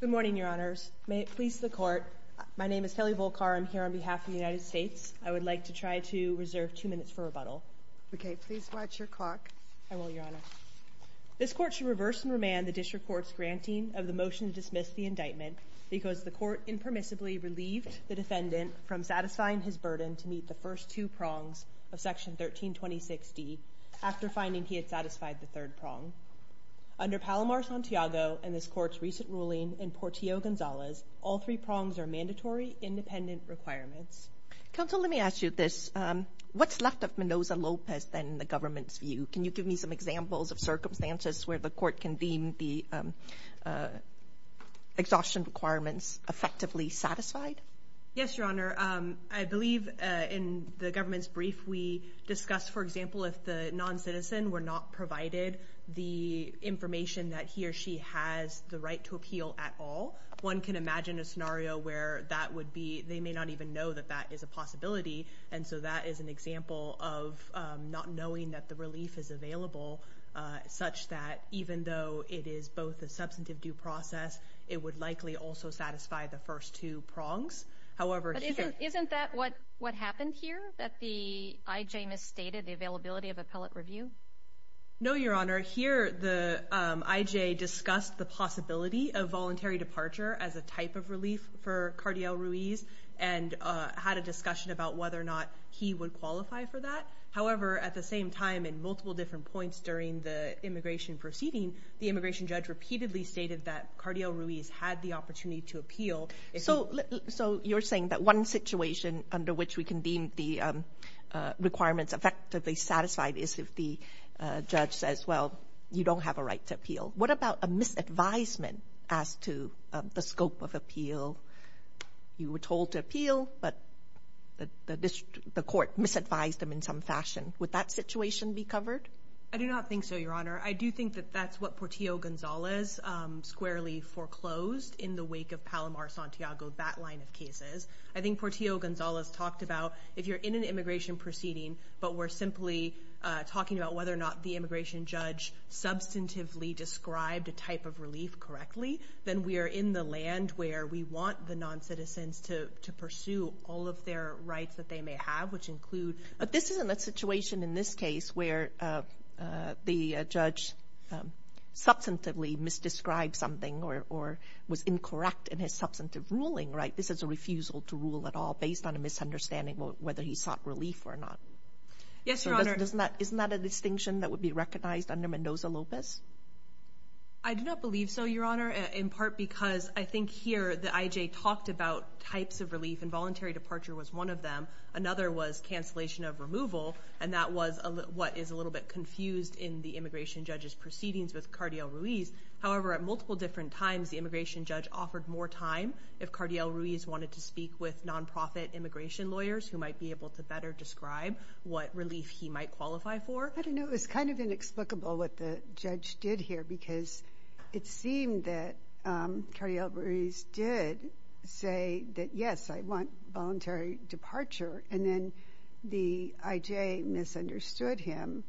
Good morning, Your Honors. May it please the Court, my name is Kelly Volkar. I'm here on behalf of the United States. I would like to try to reserve two minutes for rebuttal. Okay, please watch your clock. I will, Your Honor. This Court should reverse and remand the District Court's granting of the motion to dismiss the indictment because the Court impermissibly relieved the defendant from satisfying his burden to meet the first two prongs of Section 13-2060 after finding he had satisfied the third prong. Under Palomar-Santiago and this Court's recent ruling in Portillo-Gonzalez, all three prongs are mandatory independent requirements. Counsel, let me ask you this. What's left of Mendoza-Lopez then in the government's view? Can you give me some examples of circumstances where the Court can deem the exhaustion requirements effectively satisfied? Yes, Your Honor. I believe in the government's brief we discussed, for example, if the non-citizen were not provided the information that he or she has the right to appeal at all. One can imagine a scenario where that would be, they may not even know that that is a possibility. And so that is an example of not knowing that the relief is available such that even though it is both a substantive due process, it would likely also satisfy the first two prongs. But isn't that what happened here, that the IJ misstated the availability of appellate review? No, Your Honor. Here, the IJ discussed the possibility of voluntary departure as a type of relief for Cardiel Ruiz and had a discussion about whether or not he would qualify for that. However, at the same time, in multiple different points during the immigration proceeding, the immigration judge repeatedly stated that Cardiel Ruiz had the opportunity to appeal. So you're saying that one situation under which we can deem the requirements effectively satisfied is if the judge says, well, you don't have a right to appeal. What about a misadvisement as to the scope of appeal? You were told to appeal, but the Court misadvised them in some fashion. Would that situation be covered? I do not think so, Your Honor. I do think that that's what Portillo-Gonzalez squarely foreclosed in the wake of Palomar-Santiago, that line of cases. I think Portillo-Gonzalez talked about if you're in an immigration proceeding, but we're simply talking about whether or not the immigration judge substantively described a type of relief correctly, then we are in the land where we want the noncitizens to pursue all of their rights that they may have, which include... But this isn't a situation in this case where the judge substantively misdescribed something or was incorrect in his substantive ruling, right? This is a refusal to rule at all based on a misunderstanding of whether he sought relief or not. Yes, Your Honor. So isn't that a distinction that would be recognized under Mendoza-Lopez? I do not believe so, Your Honor, in part because I think here the IJ talked about types of relief. Involuntary departure was one of them. Another was cancellation of removal, and that was what is a little bit confused in the immigration judge's proceedings with Cardiel Ruiz. However, at multiple different times, the immigration judge offered more time if Cardiel Ruiz wanted to speak with nonprofit immigration lawyers who might be able to better describe what relief he might qualify for. I don't know. It was kind of inexplicable what the judge did here because it seemed that Cardiel Ruiz did say that, yes, I want voluntary departure, and then the IJ misunderstood him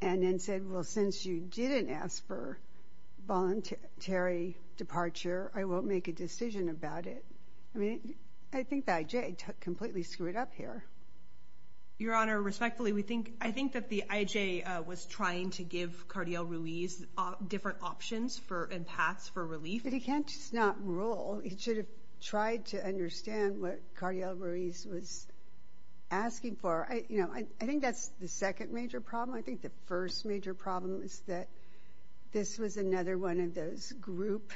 and then said, well, since you didn't ask for voluntary departure, I won't make a decision about it. I mean, I think the IJ completely screwed up here. Your Honor, respectfully, I think that the IJ was trying to give Cardiel Ruiz different options and paths for relief. But he can't just not rule. He should have tried to understand what Cardiel Ruiz was asking for. I think that's the second major problem. I think the first major problem is that this was another one of those group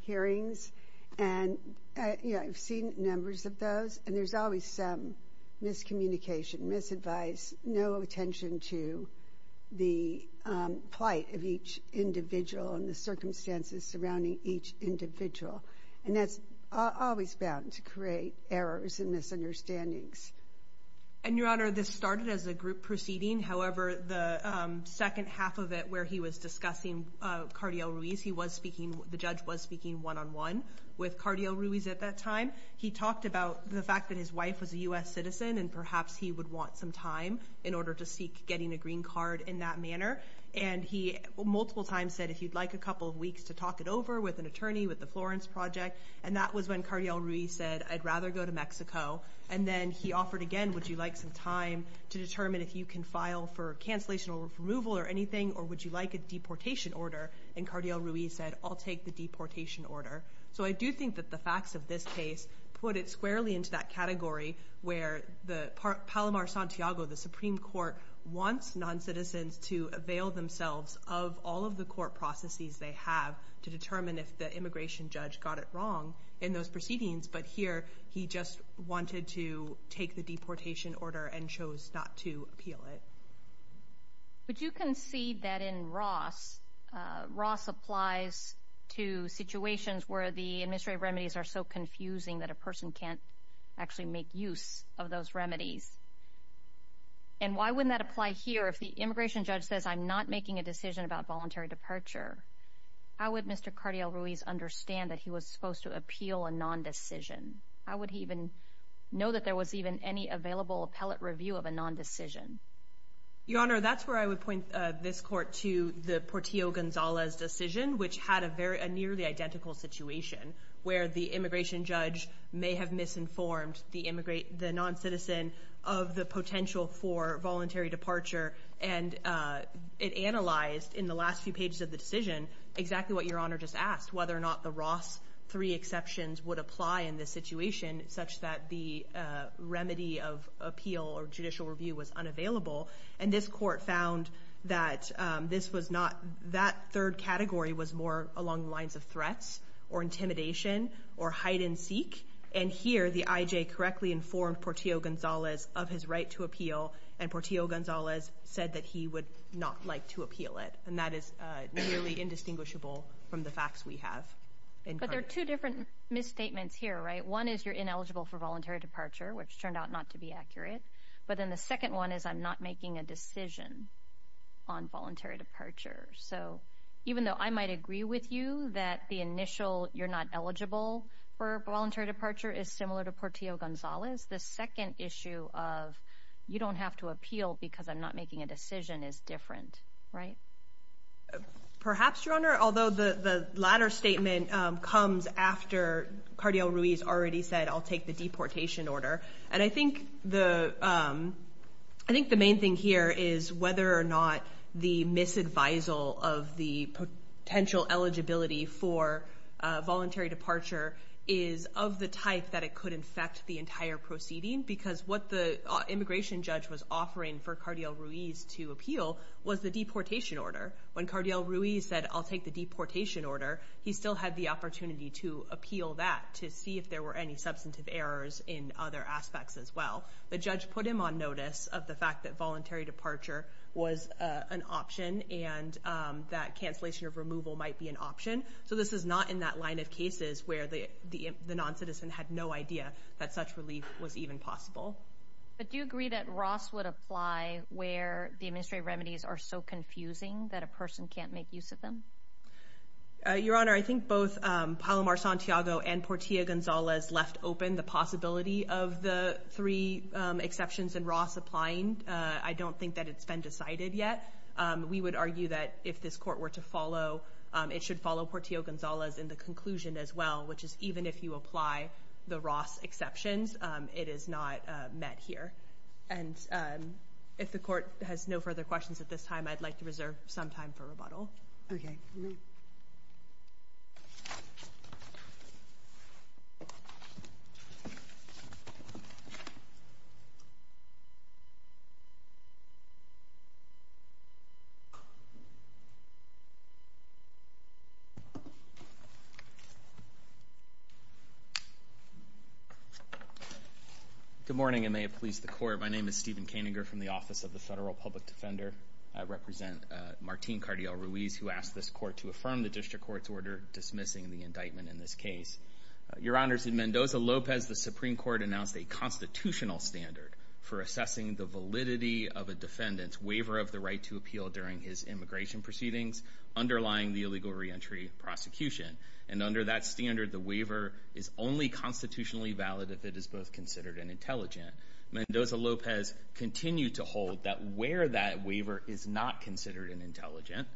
hearings, and I've seen numbers of those, and there's always some miscommunication, misadvice, no attention to the plight of each individual and the circumstances surrounding each individual. And that's always bound to create errors and misunderstandings. And Your Honor, this started as a group proceeding. However, the second half of it where he was discussing Cardiel Ruiz, he was speaking, the judge was speaking one on one with Cardiel Ruiz at that time. He talked about the fact that his wife was a U.S. citizen, and perhaps he would want some time in order to seek getting a green card in that manner. And he multiple times said, if you'd like a couple of weeks to talk it over with an attorney with the Florence Project, and that was when Cardiel Ruiz said, I'd rather go to Mexico. And then he offered again, would you like some time to determine if you can file for cancellation or removal or anything, or would you like a deportation order? And Cardiel Ruiz said, I'll take the deportation order. So I do think that the facts of this case put it squarely into that category where the Palomar Santiago, the Supreme Court, wants non-citizens to avail themselves of all of the court processes they have to determine if the immigration judge got it wrong in those proceedings. But here, he just wanted to take the deportation order and chose not to appeal it. Would you concede that in Ross, Ross applies to situations where the administrative remedies are so confusing that a person can't actually make use of those remedies? And why wouldn't that apply here if the immigration judge says, I'm not making a decision about voluntary departure? How would Mr. Cardiel Ruiz understand that he was supposed to appeal a non-decision? How would he even know that there was even any available appellate review of a non-decision? Your Honor, that's where I would point this court to the Portillo-Gonzalez decision, which had a very, a nearly identical situation where the immigration judge may have misinformed the non-citizen of the potential for voluntary departure. And it analyzed in the last few pages of the decision exactly what Your Honor just asked, whether or not the Ross three exceptions would apply in this situation, such that the remedy of appeal or judicial review was unavailable. And this court found that this was not, that third category was more along the lines of threats, or intimidation, or hide and seek. And here, the IJ correctly informed Portillo-Gonzalez of his right to appeal, and Portillo-Gonzalez said that he would not like to appeal it. And that is nearly indistinguishable from the facts we have. But there are two different misstatements here, right? One is you're ineligible for voluntary departure, which turned out not to be accurate. But then the second one is I'm not making a decision on voluntary departure. So even though I might agree with you that the initial you're not eligible for voluntary departure is similar to Portillo-Gonzalez, the second issue of you don't have to appeal because I'm not making a decision is different, right? Perhaps, Your Honor. Although the latter statement comes after Cardiel Ruiz already said I'll take the deportation order. And I think the main thing here is whether or not the misadvisal of the potential eligibility for voluntary departure is of the type that it could infect the entire proceeding. Because what the immigration judge was offering for Cardiel Ruiz to appeal was the deportation order. When Cardiel Ruiz said I'll take the deportation order, he still had the opportunity to appeal that to see if there were any substantive errors in other aspects as well. The judge put him on notice of the fact that voluntary departure was an option and that cancellation of removal might be an option. So this is not in that line of cases where the non-citizen had no idea that such relief was even possible. But do you agree that Ross would apply where the administrative remedies are so confusing that a person can't make use of them? Your Honor, I think both Palomar-Santiago and Portillo-Gonzalez left open the possibility of the three exceptions in Ross applying. I don't think that it's been decided yet. We would argue that if this court were to follow, it should follow Portillo-Gonzalez in the conclusion as well, which is even if you apply the Ross exceptions, it is not met here. And if the court has no further questions at this time, I'd like to reserve some time for rebuttal. Okay. Good morning, and may it please the Court. My name is Stephen Kaninger from the Office of the Federal Public Defender. I represent Martín Cardial-Ruiz, who asked this court to affirm the District Court's order dismissing the indictment in this case. Your Honors, in Mendoza-Lopez, the Supreme Court announced a constitutional standard for assessing the validity of a defendant's waiver of the right to appeal during his immigration proceedings underlying the illegal reentry prosecution. And under that standard, the waiver is only constitutionally valid if it is both considered and intelligent. Mendoza-Lopez continued to hold that where that waiver is not considered and intelligent,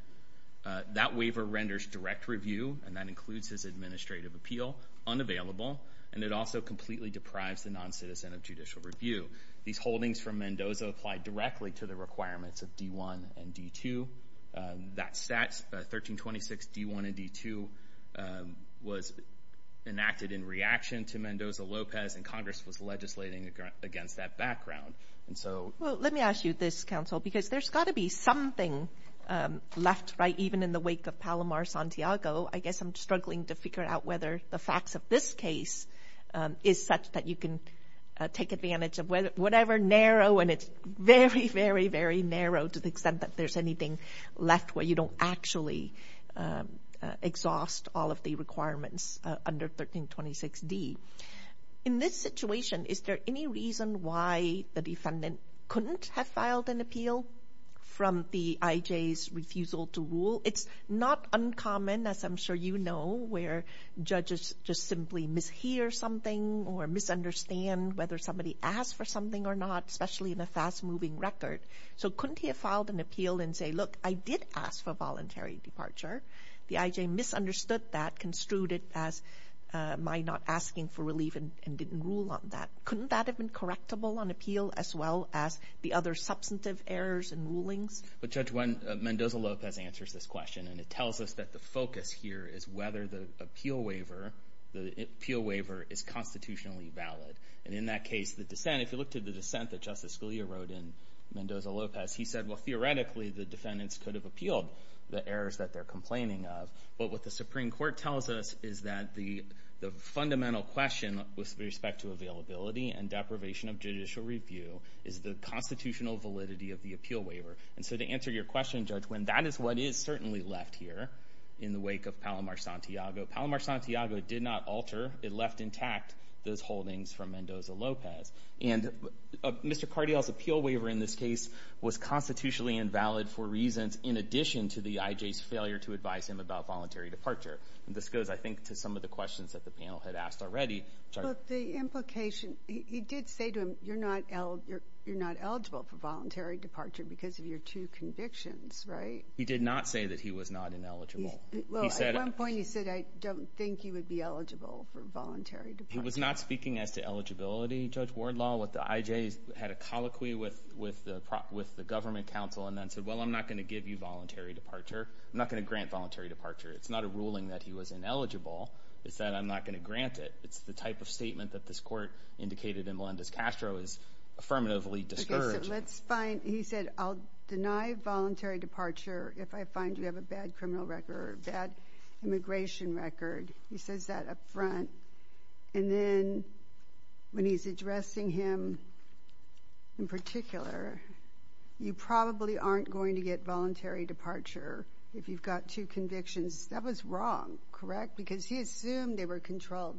that waiver renders direct review, and that includes his administrative appeal, unavailable, and it also completely deprives the non-citizen of judicial review. These holdings from Mendoza apply directly to the requirements of D-1 and D-2. That statute, 1326 D-1 and D-2, was enacted in reaction to Mendoza-Lopez, and Congress was legislating against that background. Let me ask you this, Counsel, because there's got to be something left, right, even in the wake of Palomar-Santiago. I guess I'm struggling to figure out whether the facts of this case is such that you can take advantage of whatever narrow, and it's very, very, very narrow to the extent that there's anything left where you don't actually exhaust all of the requirements under 1326 D. In this situation, is there any reason why the defendant couldn't have filed an appeal from the IJ's refusal to rule? It's not uncommon, as I'm sure you know, where judges just simply mishear something or misunderstand whether somebody asked for something or not, especially in a fast-moving record. So couldn't he have filed an appeal and say, look, I did ask for voluntary departure. The IJ misunderstood that, construed it as my not asking for relief and didn't rule on that. Couldn't that have been correctable on appeal as well as the other substantive errors and rulings? But Judge, when Mendoza-Lopez answers this question, and it tells us that the focus here is whether the appeal waiver is constitutionally valid. And in that case, the dissent, if you look to the dissent that Justice Scalia wrote in Mendoza-Lopez, he said, well, theoretically, the defendants could have appealed the errors that they're complaining of. But what the Supreme Court tells us is that the fundamental question with respect to availability and deprivation of judicial review is the constitutional validity of the appeal waiver. And so to answer your question, Judge, when that is what is certainly left here in the wake of Palomar-Santiago, Palomar-Santiago did not alter, it left intact those holdings from Mendoza-Lopez. And Mr. Cardial's appeal waiver in this case was constitutionally invalid for reasons in addition to the IJ's failure to advise him about voluntary departure. This goes, I think, to some of the questions that the panel had asked already. But the implication, he did say to him, you're not eligible for voluntary departure because of your two convictions, right? He did not say that he was not ineligible. Well, at one point he said, I don't think you would be eligible for voluntary departure. He was not speaking as to eligibility, Judge Wardlaw, with the IJ's, had a colloquy with the government counsel and then said, well, I'm not going to give you voluntary departure. I'm not going to grant voluntary departure. It's not a ruling that he was ineligible. It's that I'm not going to grant it. It's the type of statement that this court indicated in Melendez-Castro is affirmatively discouraged. Okay, so let's find, he said, I'll deny voluntary departure if I find you have a bad criminal record, bad immigration record. He says that up front. And then when he's addressing him in particular, you probably aren't going to get voluntary departure if you've got two convictions. That was wrong, correct? Because he assumed they were controlled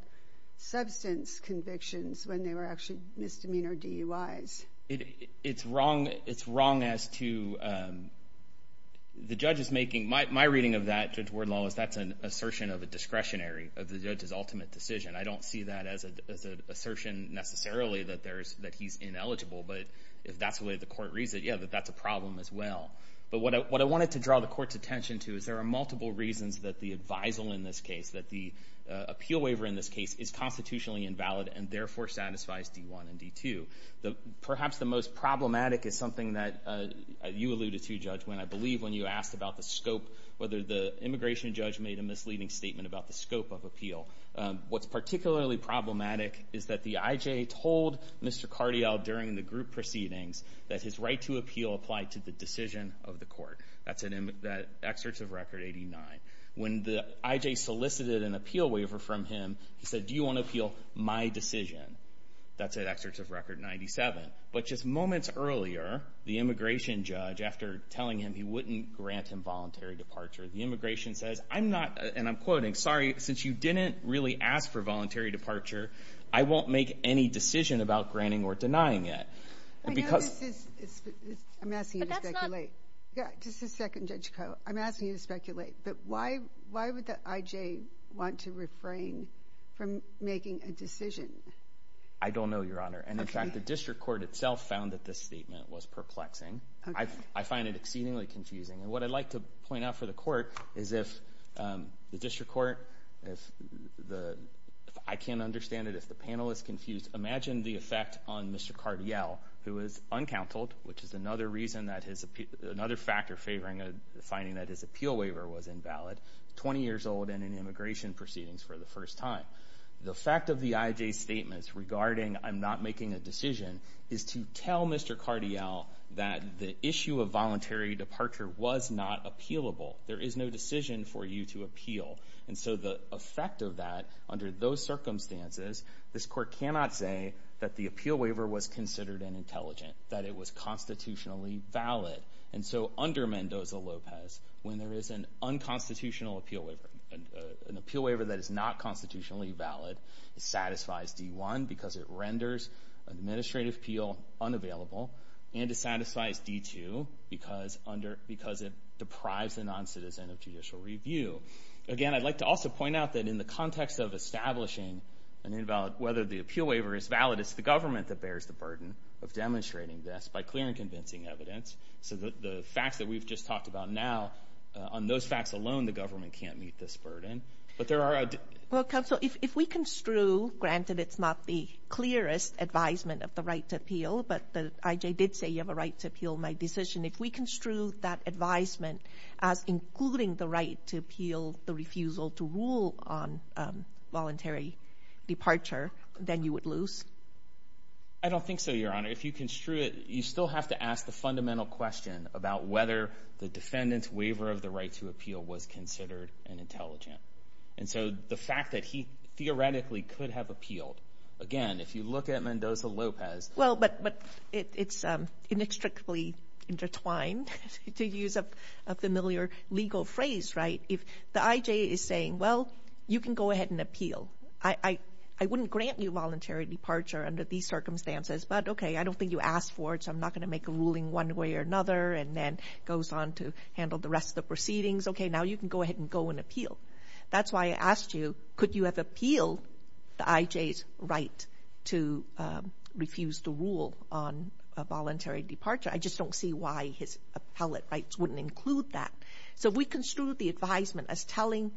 substance convictions when they were actually misdemeanor DUIs. It's wrong as to, the judge is making, my reading of that, Judge Wardlaw, is that's an assertion of a discretionary, of the judge's ultimate decision. I don't see that as an assertion necessarily that he's ineligible. But if that's the way the court reads it, yeah, that's a problem as well. But what I wanted to draw the court's attention to is there are multiple reasons that the advisal in this case, that the appeal waiver in this case is constitutionally invalid and therefore satisfies D1 and D2. Perhaps the most problematic is something that you alluded to, Judge Winn, I believe when you asked about the scope, whether the immigration judge made a misleading statement about the scope of appeal. What's particularly problematic is that the IJ told Mr. Cardial during the group proceedings that his right to appeal applied to the decision of the court. That's at excerpts of Record 89. When the IJ solicited an appeal waiver from him, he said, do you want to appeal my decision? That's at excerpts of Record 97. But just moments earlier, the immigration judge, after telling him he wouldn't grant him voluntary departure, the immigration says, I'm not, and I'm quoting, sorry, since you didn't really ask for voluntary departure, I won't make any decision about granting or denying it. Because- I know this is, I'm asking you to speculate. But that's not- Yeah, this is second Judge Koh. I'm asking you to speculate. But why would the IJ want to refrain from making a decision? I don't know, Your Honor. And in fact, the district court itself found that this statement was perplexing. I find it exceedingly confusing. And what I'd like to point out for the court is if the district court, if the, I can't understand it, if the panel is confused, imagine the effect on Mr. Cardial, who is uncounseled, which is another reason that his, another factor favoring a finding that his appeal waiver was invalid, 20 years old and in immigration proceedings for the first time. The fact of the IJ's statements regarding I'm not making a decision is to tell Mr. Cardial that the issue of voluntary departure was not appealable. There is no decision for you to appeal. And so the effect of that, under those circumstances, this court cannot say that the appeal waiver was considered an intelligent, that it was constitutionally valid. And so under Mendoza-Lopez, when there is an unconstitutional appeal waiver, an appeal waiver that is not constitutionally valid, it satisfies D-1 because it renders an administrative appeal unavailable, and it satisfies D-2 because under, because it deprives a non-citizen of judicial review. Again, I'd like to also point out that in the context of establishing an invalid, whether the appeal waiver is valid, it's the government that bears the burden of demonstrating this by clear and convincing evidence. So the facts that we've just talked about now, on those facts alone, the government can't meet this burden. But there are... Well, counsel, if we construe, granted it's not the clearest advisement of the right to appeal, but the IJ did say you have a right to appeal my decision. If we construe that advisement as including the right to appeal the refusal to rule on involuntary departure, then you would lose? I don't think so, Your Honor. If you construe it, you still have to ask the fundamental question about whether the defendant's waiver of the right to appeal was considered an intelligent. And so the fact that he theoretically could have appealed, again, if you look at Mendoza-Lopez... Well, but it's inextricably intertwined, to use a familiar legal phrase, right? If the IJ is saying, well, you can go ahead and appeal. I wouldn't grant you voluntary departure under these circumstances, but okay, I don't think you asked for it, so I'm not going to make a ruling one way or another, and then goes on to handle the rest of the proceedings, okay, now you can go ahead and go and appeal. That's why I asked you, could you have appealed the IJ's right to refuse to rule on a voluntary departure? I just don't see why his appellate rights wouldn't include that. So if we construe the advisement as telling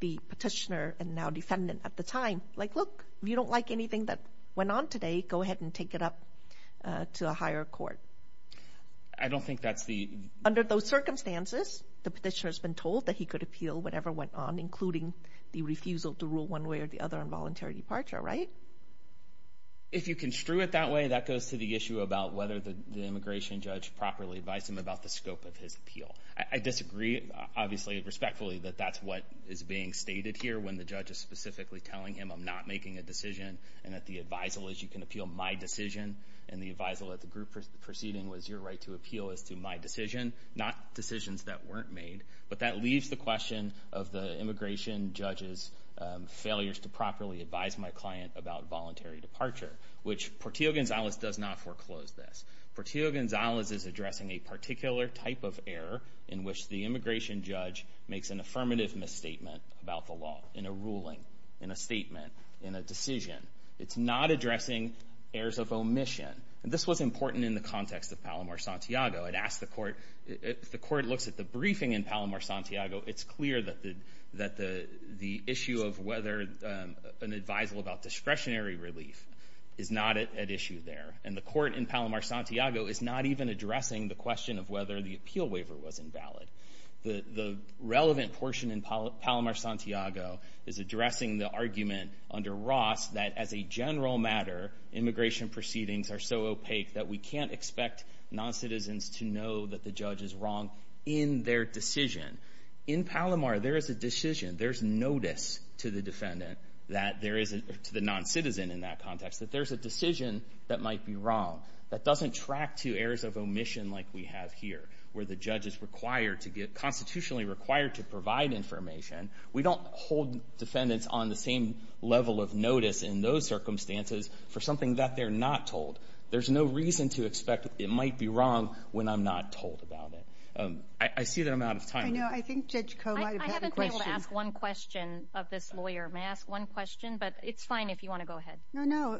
the petitioner and now defendant at the time, like, look, if you don't like anything that went on today, go ahead and take it up to a higher court. I don't think that's the... Under those circumstances, the petitioner has been told that he could appeal whatever went on, including the refusal to rule one way or the other on voluntary departure, right? If you construe it that way, that goes to the issue about whether the immigration judge properly advised him about the scope of his appeal. I disagree, obviously, respectfully, that that's what is being stated here when the judge is specifically telling him, I'm not making a decision, and that the advisal is you can appeal my decision, and the advisal at the group proceeding was your right to appeal as to my decision, not decisions that weren't made. But that leaves the question of the immigration judge's failures to properly advise my client about voluntary departure, which Portillo-Gonzalez does not foreclose this. Portillo-Gonzalez is addressing a particular type of error in which the immigration judge makes an affirmative misstatement about the law in a ruling, in a statement, in a decision. It's not addressing errors of omission. This was important in the context of Palomar-Santiago. I'd ask the court, if the court looks at the briefing in Palomar-Santiago, it's clear that the issue of whether an advisal about discretionary relief is not at issue there. And the court in Palomar-Santiago is not even addressing the question of whether the appeal waiver was invalid. The relevant portion in Palomar-Santiago is addressing the argument under Ross that as a general matter, immigration proceedings are so opaque that we can't expect noncitizens to know that the judge is wrong in their decision. In Palomar, there is a decision, there's notice to the defendant that there is a, to the noncitizen in that context, that there's a decision that might be wrong, that doesn't track to errors of omission like we have here, where the judge is required to get, constitutionally required to provide information. We don't hold defendants on the same level of notice in those circumstances for something that they're not told. There's no reason to expect it might be wrong when I'm not told about it. I see that I'm out of time. I know. I think Judge Koh might have had a question. I haven't been able to ask one question of this lawyer. May I ask one question? But it's fine if you want to go ahead. No, no.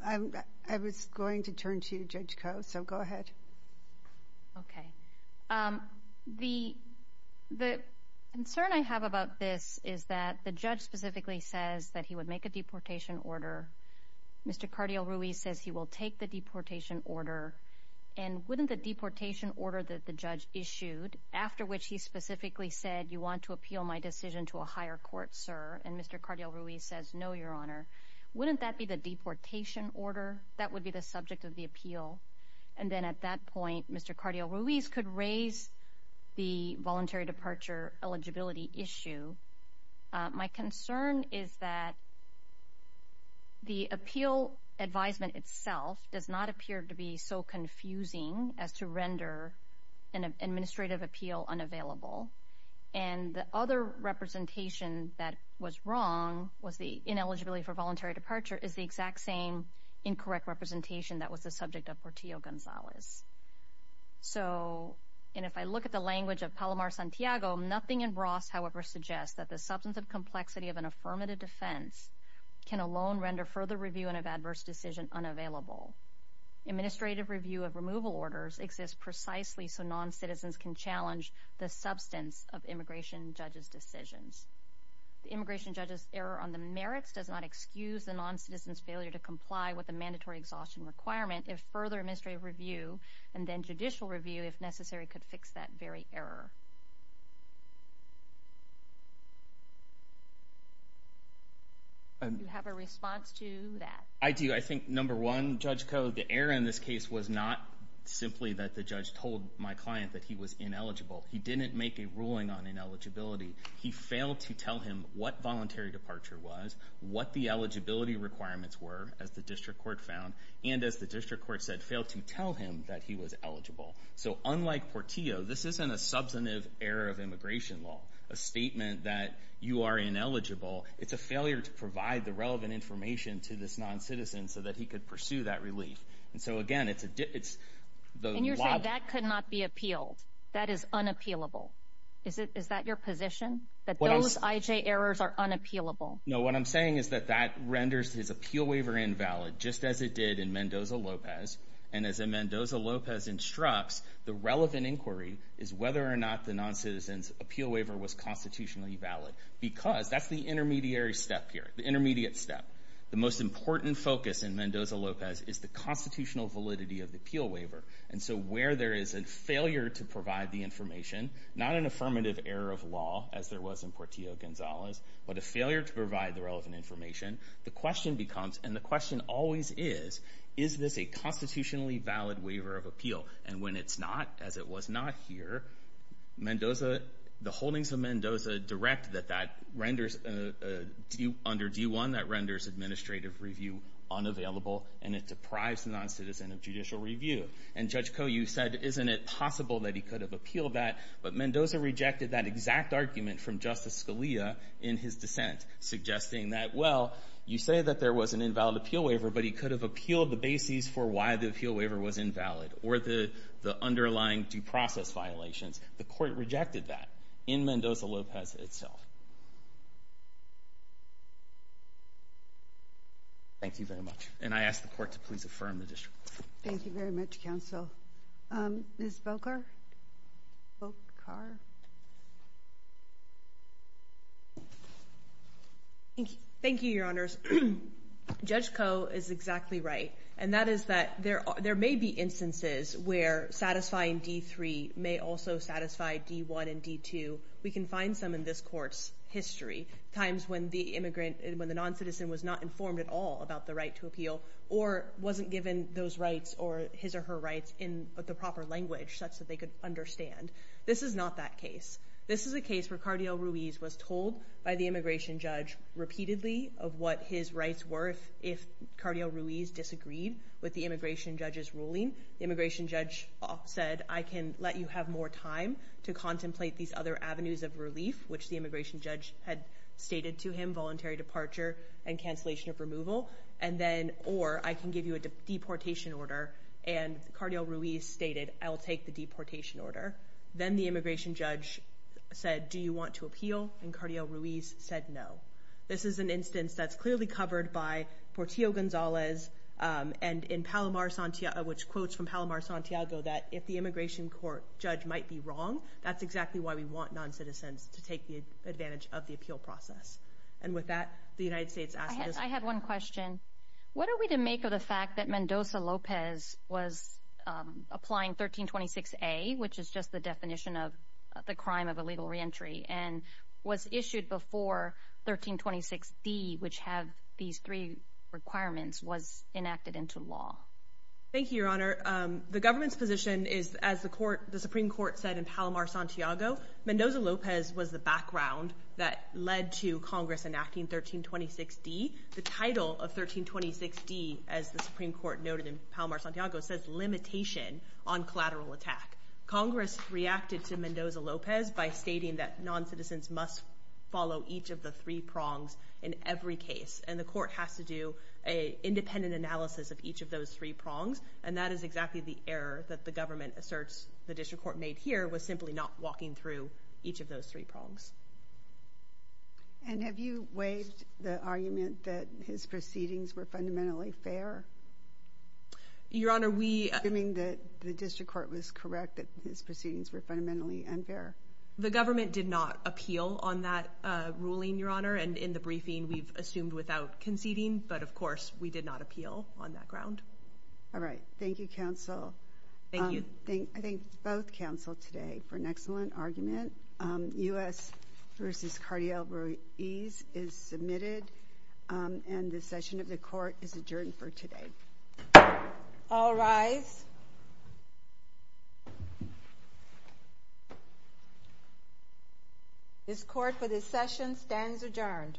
I was going to turn to Judge Koh, so go ahead. The, the concern I have about this is that the judge specifically says that he would make a deportation order. Mr. Cardial-Ruiz says he will take the deportation order, and wouldn't the deportation order that the judge issued, after which he specifically said, you want to appeal my decision to a fair court, sir, and Mr. Cardial-Ruiz says, no, Your Honor, wouldn't that be the deportation order? That would be the subject of the appeal. And then at that point, Mr. Cardial-Ruiz could raise the voluntary departure eligibility issue. My concern is that the appeal advisement itself does not appear to be so confusing as to render an administrative appeal unavailable. And the other representation that was wrong was the ineligibility for voluntary departure is the exact same incorrect representation that was the subject of Portillo-Gonzalez. So, and if I look at the language of Palomar-Santiago, nothing in Bross, however, suggests that the substantive complexity of an affirmative defense can alone render further review of an adverse decision unavailable. Administrative review of removal orders exists precisely so noncitizens can challenge the substance of immigration judges' decisions. The immigration judge's error on the merits does not excuse the noncitizen's failure to comply with the mandatory exhaustion requirement if further administrative review and then judicial review, if necessary, could fix that very error. Do you have a response to that? I do. I think, number one, Judge Koh, the error in this case was not simply that the judge told my client that he was ineligible. He didn't make a ruling on ineligibility. He failed to tell him what voluntary departure was, what the eligibility requirements were, as the district court found, and, as the district court said, failed to tell him that he was So, unlike Portillo, this isn't a substantive error of immigration law, a statement that you are ineligible. It's a failure to provide the relevant information to this noncitizen so that he could pursue that relief. And so, again, it's the... And you're saying that could not be appealed. That is unappealable. Is that your position, that those IJ errors are unappealable? No. What I'm saying is that that renders his appeal waiver invalid, just as it did in Mendoza-Lopez. And as Mendoza-Lopez instructs, the relevant inquiry is whether or not the noncitizen's appeal waiver was constitutionally valid because that's the intermediary step here, the intermediate step. The most important focus in Mendoza-Lopez is the constitutional validity of the appeal waiver. And so, where there is a failure to provide the information, not an affirmative error of law as there was in Portillo-Gonzalez, but a failure to provide the relevant information, the question becomes, and the question always is, is this a constitutionally valid waiver of appeal? And when it's not, as it was not here, Mendoza... The holdings of Mendoza direct that that renders... Under D-1, that renders administrative review unavailable, and it deprives the noncitizen of judicial review. And Judge Koh, you said, isn't it possible that he could have appealed that, but Mendoza rejected that exact argument from Justice Scalia in his dissent, suggesting that, well, you say that there was an invalid appeal waiver, but he could have appealed the bases for why the appeal waiver was invalid, or the underlying due process violations. The court rejected that in Mendoza-Lopez itself. Thank you very much. And I ask the court to please affirm the district. Thank you very much, counsel. Ms. Volkow? Volkow? Thank you, Your Honors. Judge Koh is exactly right, and that is that there may be instances where satisfying D-3 may also satisfy D-1 and D-2. We can find some in this court's history, times when the immigrant, when the noncitizen was not informed at all about the right to appeal or wasn't given those rights or his or her rights in the proper language such that they could understand. This is not that case. This is a case where Cardio Ruiz was told by the immigration judge repeatedly of what his rights were if Cardio Ruiz disagreed with the immigration judge's ruling. The immigration judge said, I can let you have more time to contemplate these other avenues of relief, which the immigration judge had stated to him, voluntary departure and cancellation of removal, and then, or I can give you a deportation order. And Cardio Ruiz stated, I'll take the deportation order. Then the immigration judge said, do you want to appeal? And Cardio Ruiz said no. This is an instance that's clearly covered by Portillo-Gonzalez and in Palomar-Santiago, which quotes from Palomar-Santiago, that if the immigration court judge might be wrong, that's exactly why we want noncitizens to take advantage of the appeal process. And with that, the United States asked this- I have one question. What are we to make of the fact that Mendoza-Lopez was applying 1326A, which is just the definition of the crime of illegal reentry, and was issued before 1326D, which have these three requirements, was enacted into law? Thank you, Your Honor. The government's position is, as the Supreme Court said in Palomar-Santiago, Mendoza-Lopez was the background that led to Congress enacting 1326D. The title of 1326D, as the Supreme Court noted in Palomar-Santiago, says Limitation on Collateral Attack. Congress reacted to Mendoza-Lopez by stating that noncitizens must follow each of the three prongs in every case. And the court has to do a independent analysis of each of those three prongs. And that is exactly the error that the government asserts the district court made here was simply not walking through each of those three prongs. And have you waived the argument that his proceedings were fundamentally fair? Your Honor, we- Assuming that the district court was correct, that his proceedings were fundamentally unfair. The government did not appeal on that ruling, Your Honor, and in the briefing we've assumed without conceding, but of course, we did not appeal on that ground. All right, thank you, counsel. Thank you. I thank both counsel today for an excellent argument. US versus Cardiol-Ruiz is submitted, and the session of the court is adjourned for today. All rise. This court for this session stands adjourned.